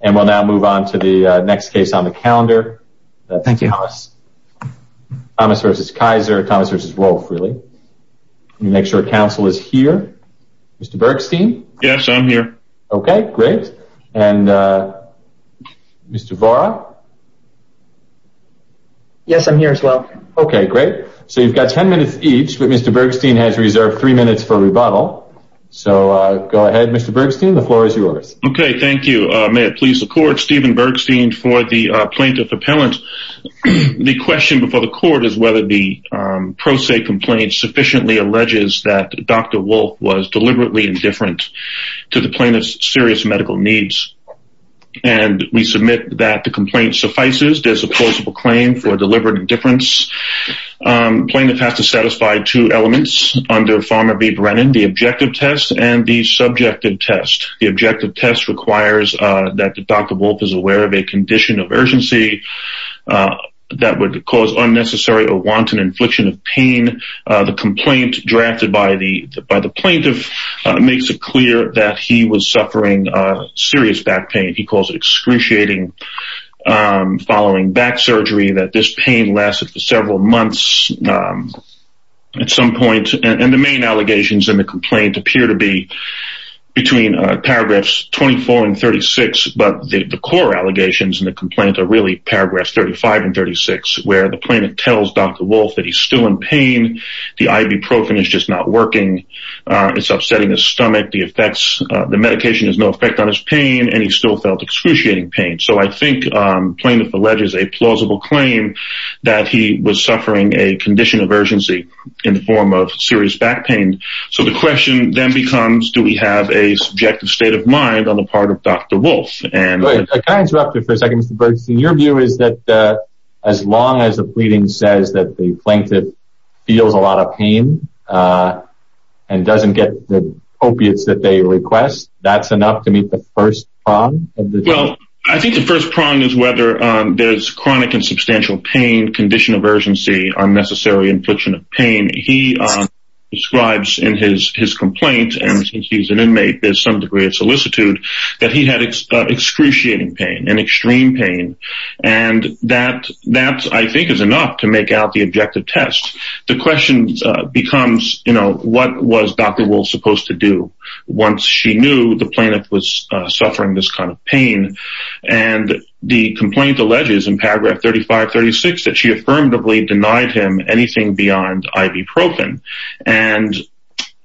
and we'll now move on to the next case on the calendar. Thank you, Thomas. Thomas v. Keyser, Thomas v. Wolfe, really. Let me make sure council is here. Mr. Bergstein? Yes, I'm here. Okay, great. And Mr. Vara? Yes, I'm here as well. Okay, great. So you've got 10 minutes each, but Mr. Bergstein has reserved three minutes for rebuttal. So go ahead, Mr. Bergstein, the floor is yours. Okay, thank you. May it please the court, Stephen Bergstein for the plaintiff appellant. The question before the court is whether the pro se complaint sufficiently alleges that Dr. Wolfe was deliberately indifferent to the plaintiff's serious medical needs. And we submit that the complaint suffices, there's a plausible claim for deliberate indifference. Plaintiff has to satisfy two elements under Farmer v. Brennan, the objective test and the subjective test. The objective test requires that Dr. Wolfe is aware of a condition of urgency that would cause unnecessary or wanton infliction of pain. The complaint drafted by the by the plaintiff makes it clear that he was suffering serious back pain, he calls it excruciating. Following back surgery that this pain lasted for several months. At some point, and the main allegations in the complaint appear to be between paragraphs 24 and 36. But the core allegations in the complaint are really paragraphs 35 and 36, where the plaintiff tells Dr. Wolfe that he's still in pain, the ibuprofen is just not working. It's upsetting his stomach the effects, the medication has no effect on his pain, and he still felt excruciating pain. So I think plaintiff alleges a plausible claim that he was suffering a condition of urgency in the form of serious back pain. So the question then becomes, do we have a subjective state of mind on the part of Dr. Wolfe? And I interrupted for a second Mr. Bergstein, your view is that as long as the pleading says that the plaintiff feels a lot of pain and doesn't get the opiates that they request, that's enough to meet the first prong? Well, I think the first prong is whether there's chronic and substantial pain, condition of urgency, unnecessary infliction of pain. He describes in his complaint, and he's an inmate, there's some degree of solicitude, that he had excruciating pain, an extreme pain, and that I think is enough to make out the objective test. The question becomes, you know, what was Dr. Wolfe supposed to do once she knew the plaintiff was suffering this kind of pain? And the complaint alleges in paragraph 35-36 that she affirmatively denied him anything beyond ibuprofen. And,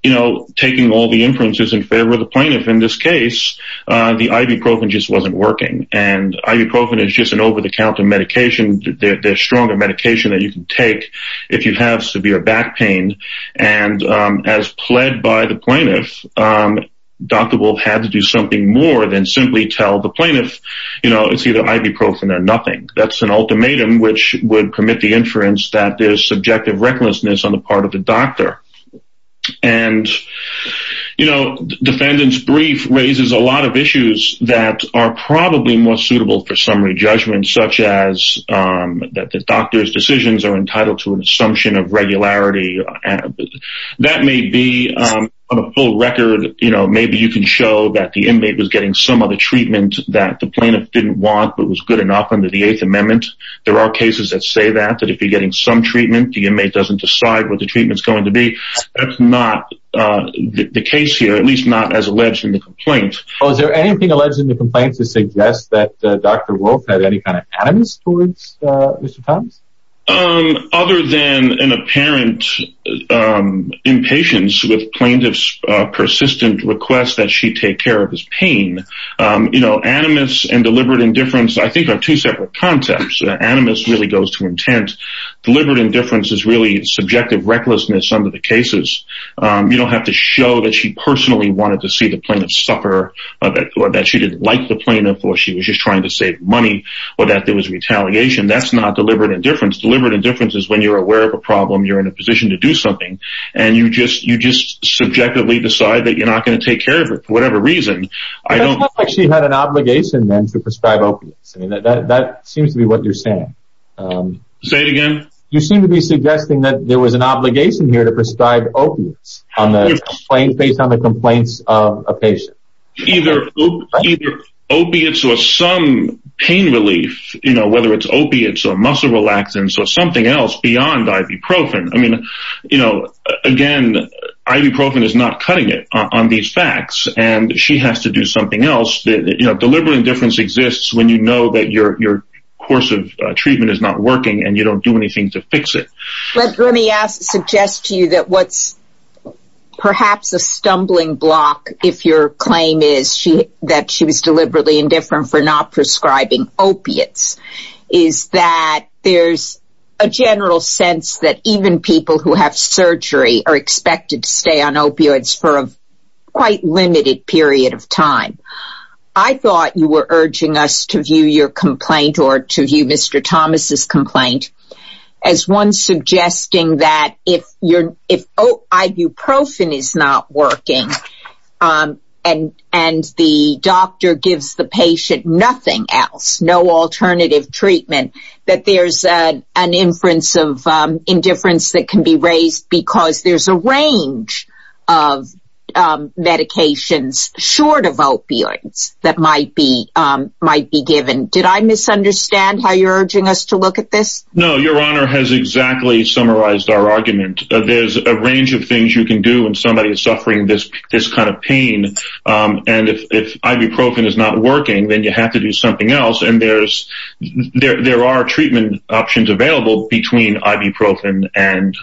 you know, taking all the inferences in favor of the plaintiff in this case, the ibuprofen just wasn't working. And ibuprofen is just an over-the-counter medication, the stronger medication that you can take if you have severe back pain. And as pled by the plaintiff, Dr. Wolfe had to do something more than simply tell the plaintiff, you know, it's either ibuprofen or nothing. That's an ultimatum, which would permit the inference that there's subjective recklessness on the part of the doctor. And, you know, defendant's brief raises a lot of issues that are probably more suitable for summary judgment, such as that the doctor's decisions are entitled to an assumption of regularity. That may be on a full record, you know, maybe you can show that the inmate was some other treatment that the plaintiff didn't want, but was good enough under the Eighth Amendment. There are cases that say that, that if you're getting some treatment, the inmate doesn't decide what the treatment's going to be. That's not the case here, at least not as alleged in the complaint. Oh, is there anything alleged in the complaint to suggest that Dr. Wolfe had any kind of animus towards Mr. Thomas? Other than an apparent impatience with plaintiff's persistent request that she take care of his pain, you know, animus and deliberate indifference, I think, are two separate contexts. Animus really goes to intent. Deliberate indifference is really subjective recklessness under the cases. You don't have to show that she personally wanted to see the plaintiff suffer, or that she didn't like the plaintiff, or she was just trying to save money, or that there was retaliation. That's not deliberate indifference. Deliberate indifference is when you're aware of a problem, you're in a position to do something, and you just subjectively decide that you're not going to take care of it for whatever reason. I don't think she had an obligation then to prescribe opiates. I mean, that seems to be what you're saying. Say it again. You seem to be suggesting that there was an obligation here to prescribe opiates on the complaint based on the complaints of a patient. Either opiates or some pain relief, you know, whether it's opiates or muscle relaxants or something else beyond ibuprofen. I mean, you know, again, ibuprofen is not cutting it on these facts, and she has to do something else. Deliberate indifference exists when you know that your course of treatment is not working, and you don't do anything to fix it. Let me suggest to you that what's perhaps a stumbling block, if your claim is that she was deliberately indifferent for not prescribing opiates, is that there's a general sense that even people who have surgery are expected to stay on opioids for a quite limited period of time. I thought you were urging us to view your complaint or to view Mr. Thomas's complaint as one suggesting that if ibuprofen is not working and the doctor gives the patient nothing else, no alternative treatment, that there's an inference of indifference that can be raised because there's a range of medications short of opioids that might be given. Did I misunderstand how you're urging us to look at this? No, your honor has exactly summarized our argument. There's a range of things you can do when somebody is suffering this kind of pain, and if ibuprofen is not working, then you have to do something else. There are treatment options available between ibuprofen and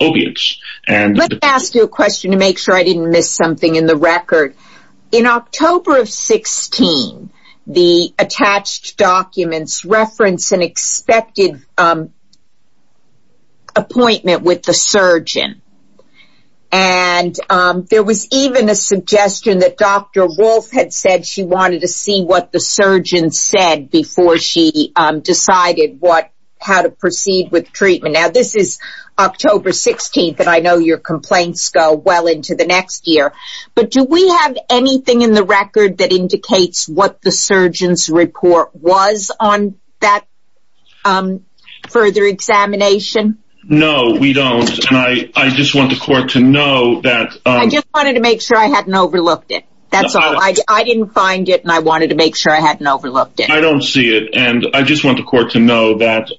opiates. Let me ask you a question to make sure I didn't miss something in the record. In October of 2016, the attached documents reference an expected appointment with the surgeon, and there was even a suggestion that Dr. Wolf had said she wanted to see what the surgeon said before she decided how to proceed with treatment. Now, this is October 16th, and I know your complaints go well into the next year, but do we have anything in the record that indicates what the surgeon's report was on that further examination? No, we don't, and I just want the court to know that... I just wanted to make sure I hadn't overlooked it. That's all. I didn't find it, and I wanted to make sure I hadn't overlooked it. I don't see it, and I just want the court to know that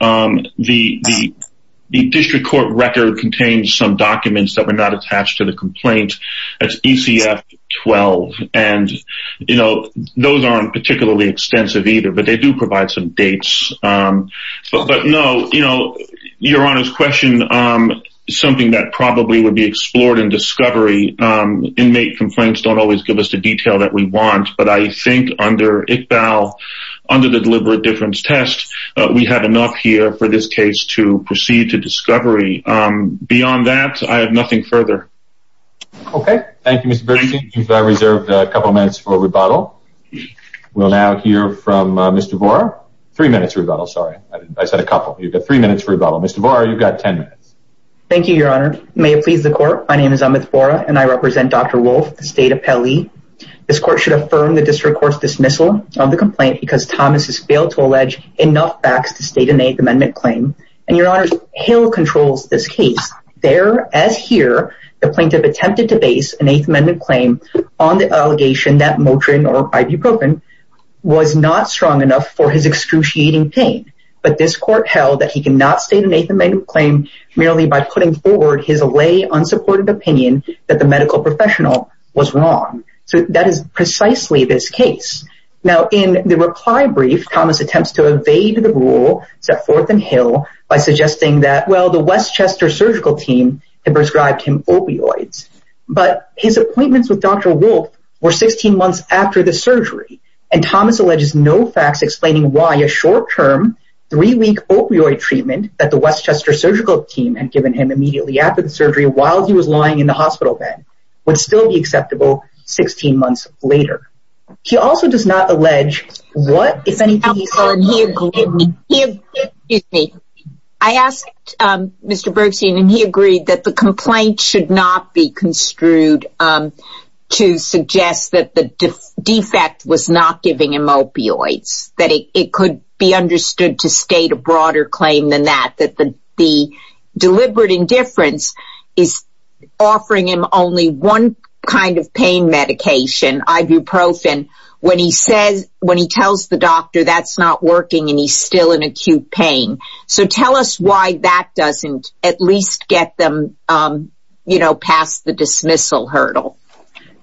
the district court record contains some documents that were not attached to the complaint. That's ECF 12, and you know, those aren't particularly extensive either, but they do provide some dates. But no, you know, Your Honor's question is something that probably would be explored in discovery. Inmate complaints don't always give us the detail that we want, but I think under ICBAL, under the deliberate difference test, we had enough here for this case to proceed to discovery. Beyond that, I have nothing further. Okay, thank you, Mr. Bertucci. You've reserved a couple minutes for rebuttal. We'll now hear from Mr. Vora. Three minutes rebuttal, sorry. I said a couple. You've got three minutes for rebuttal. Mr. Vora, you've got ten minutes. Thank you, Your Honor. May it please the court, my name is Amit Vora, and I represent Dr. Wolfe, the state appellee. This court should state an Eighth Amendment claim, and Your Honor's Hill controls this case. There, as here, the plaintiff attempted to base an Eighth Amendment claim on the allegation that Motrin or ibuprofen was not strong enough for his excruciating pain, but this court held that he cannot state an Eighth Amendment claim merely by putting forward his allay unsupported opinion that the medical professional was wrong. So that is precisely this case. Now in the reply brief, Thomas attempts to evade the rule set forth in Hill by suggesting that, well, the Westchester surgical team had prescribed him opioids, but his appointments with Dr. Wolfe were 16 months after the surgery, and Thomas alleges no facts explaining why a short-term, three-week opioid treatment that the Westchester surgical team had given him immediately after the surgery while he was lying in the hospital bed would still be acceptable 16 months later. He also does not allege what, if anything, he said. Excuse me. I asked Mr. Bergstein, and he agreed that the complaint should not be construed to suggest that the defect was not giving him opioids, that it could be understood to state a broader claim than that, that the deliberate indifference is offering him only one kind of and he's still in acute pain. So tell us why that doesn't at least get them, you know, past the dismissal hurdle.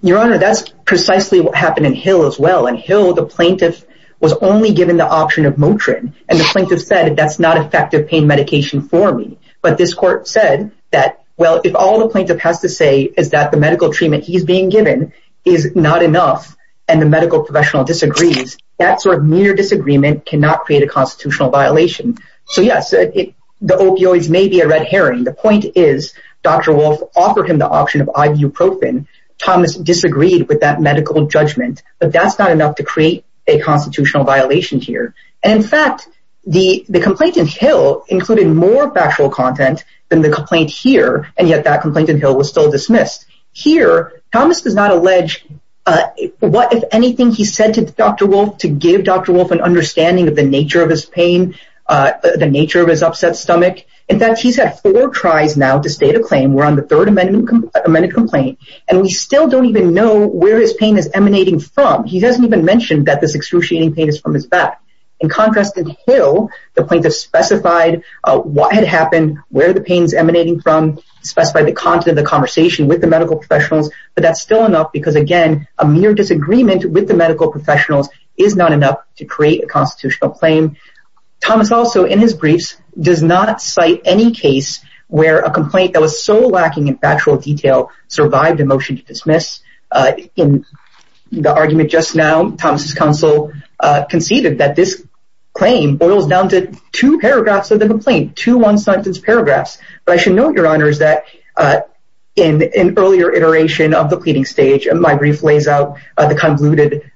Your Honor, that's precisely what happened in Hill as well. In Hill, the plaintiff was only given the option of Motrin, and the plaintiff said that's not effective pain medication for me. But this court said that, well, if all the plaintiff has to say is that the medical treatment he's being given is not enough, and the medical professional disagrees, that sort of mere disagreement cannot create a constitutional violation. So yes, the opioids may be a red herring. The point is, Dr. Wolf offered him the option of ibuprofen. Thomas disagreed with that medical judgment, but that's not enough to create a constitutional violation here. And in fact, the complaint in Hill included more factual content than the complaint here, and yet that complaint in Hill was still dismissed. Here, Thomas does not allege what, if anything, he said to Dr. Wolf to give Dr. Wolf an understanding of the nature of his pain, the nature of his upset stomach. In fact, he's had four tries now to state a claim. We're on the third amended complaint, and we still don't even know where his pain is emanating from. He doesn't even mention that this excruciating pain is from his back. In contrast, in Hill, the plaintiff specified what had happened, where the pain is emanating from, specified the content of the conversation with the medical professionals, but that's still enough because, again, a mere disagreement with the medical professionals is not enough to create a constitutional claim. Thomas also, in his briefs, does not cite any case where a complaint that was so lacking in factual detail survived a motion to dismiss. In the argument just now, Thomas's counsel conceded that this claim boils down to two paragraphs of the complaint, two one-sentence paragraphs. But I should note, Your Honors, that in an earlier iteration of the pleading stage, my brief lays out the convoluted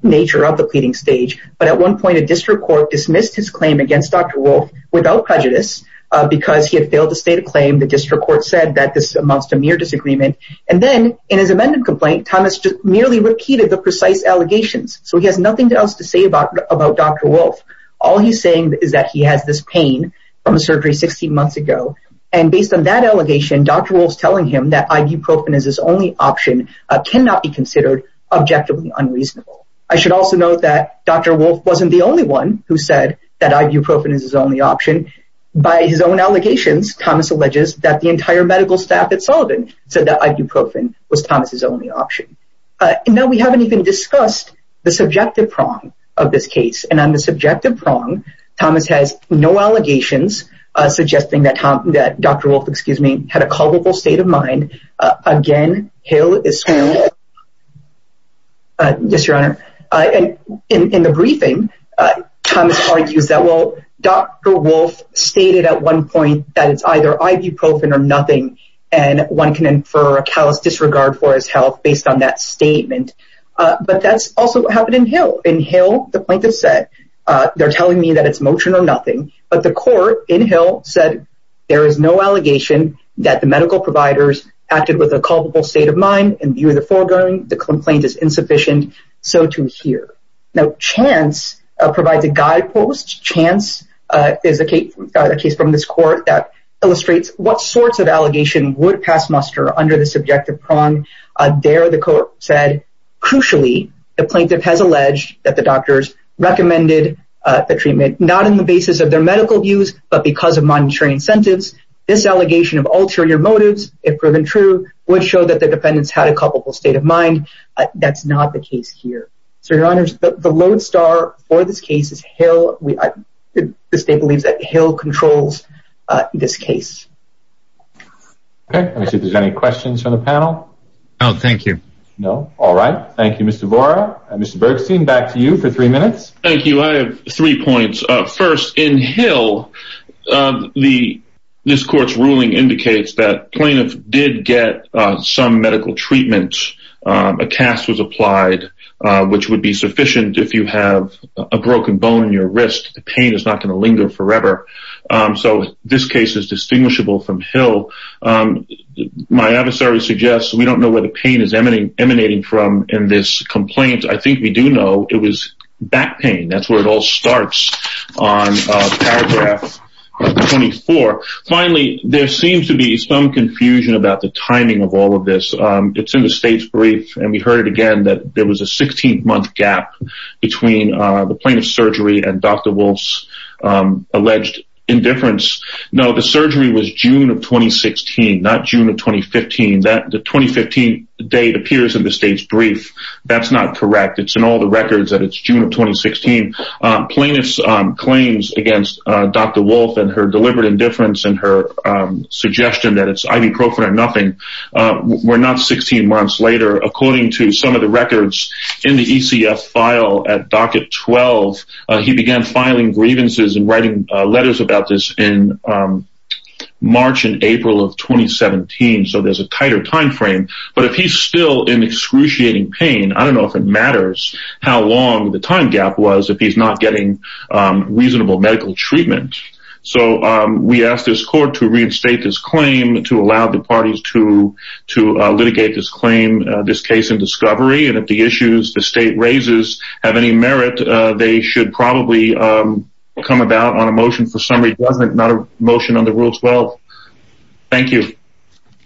nature of the pleading stage. But at one point, a district court dismissed his claim against Dr. Wolfe without prejudice because he had failed to state a claim. The district court said that this amounts to mere disagreement. And then, in his amended complaint, Thomas just merely repeated the precise allegations. So he has nothing else to say about Dr. Wolfe. All he's saying is that he has this pain from a surgery 16 months ago. And based on that objectively unreasonable. I should also note that Dr. Wolfe wasn't the only one who said that ibuprofen is his only option. By his own allegations, Thomas alleges that the entire medical staff at Sullivan said that ibuprofen was Thomas's only option. Now, we haven't even discussed the subjective prong of this case. And on the subjective prong, Thomas has no allegations suggesting that Dr. Wolfe, excuse me, had a culpable state of mind. Again, Hill is Yes, Your Honor. And in the briefing, Thomas argues that well, Dr. Wolfe stated at one point that it's either ibuprofen or nothing. And one can infer a callous disregard for his health based on that statement. But that's also what happened in Hill. In Hill, the plaintiff said, they're telling me that it's motion or nothing. But the court in Hill said, there is no allegation that the medical providers acted with a culpable state of mind and view the foregoing, the complaint is insufficient. So to hear, no chance provides a guidepost chance is a case, a case from this court that illustrates what sorts of allegation would pass muster under the subjective prong. There the court said, crucially, the plaintiff has alleged that the doctors recommended the treatment not in the basis of their medical views, but because of monetary incentives. This allegation of ulterior motives, if proven true, would show that the defendants had a culpable state of mind. That's not the case here. So Your Honors, the lodestar for this case is Hill. The state believes that Hill controls this case. Okay, let me see if there's any questions from the panel. No, thank you. No. All right. Thank you, Mr. Vora. Mr. Bergstein, back to you for three minutes. Thank you. I have three points. First, in Hill, this court's ruling indicates that plaintiff did get some medical treatment, a cast was applied, which would be sufficient if you have a broken bone in your wrist, the pain is not going to from Hill. My adversary suggests we don't know where the pain is emanating from in this complaint. I think we do know it was back pain. That's where it all starts on paragraph 24. Finally, there seems to be some confusion about the timing of all of this. It's in the state's brief, and we heard it again that there was a 16 month gap between the plaintiff's surgery and Dr. Wolf's alleged indifference. No, the surgery was June of 2016, not June of 2015. The 2015 date appears in the state's brief. That's not correct. It's in all the records that it's June of 2016. Plaintiff's claims against Dr. Wolf and her deliberate indifference and her suggestion that it's ibuprofen or nothing were not 16 months later. According to some of the records in the ECF file at docket 12, he began filing grievances and writing letters about this in March and April of 2017. There's a tighter timeframe, but if he's still in excruciating pain, I don't know if it matters how long the time gap was if he's not getting reasonable medical treatment. We asked this court to reinstate this claim to allow the parties to litigate this claim, this case in discovery, and if the issues the state raises have any merit, they should probably come about on a motion for summary judgment, not a motion under Rule 12. Thank you.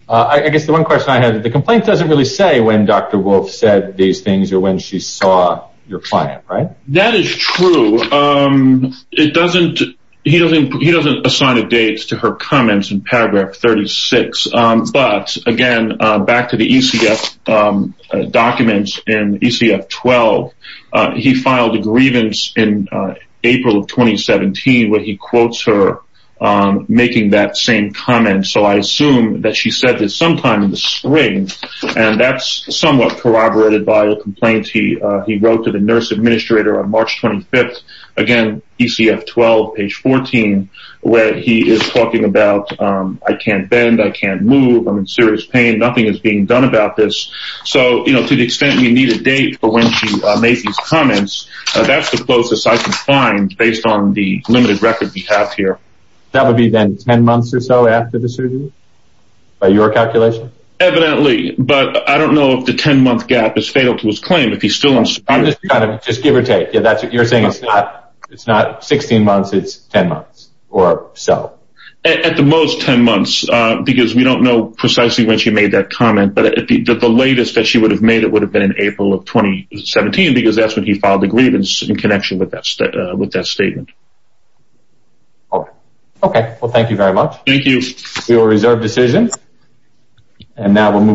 I guess the one question I have, the complaint doesn't really say when Dr. Wolf said these things or when she saw your client, right? That is true. He doesn't assign a date to her documents in ECF 12. He filed a grievance in April of 2017 where he quotes her making that same comment. I assume that she said this sometime in the spring, and that's somewhat corroborated by a complaint he wrote to the nurse administrator on March 25th, again, ECF 12, page 14, where he is talking about, I can't bend, I can't move, I'm in serious pain, nothing is being done about this. So, you know, to the extent we need a date for when she made these comments, that's the closest I can find based on the limited record we have here. That would be then 10 months or so after the surgery, by your calculation? Evidently, but I don't know if the 10-month gap is fatal to his claim if he's still on surgery. Just give or take. You're saying it's not 16 months, it's 10 months or so? At the most 10 months, because we don't know precisely when she made that comment, but the latest that she would have made it would have been in April of 2017, because that's when he filed the grievance in connection with that statement. All right. Okay. Well, thank you very much. Thank you. We will reserve decision, and now we'll move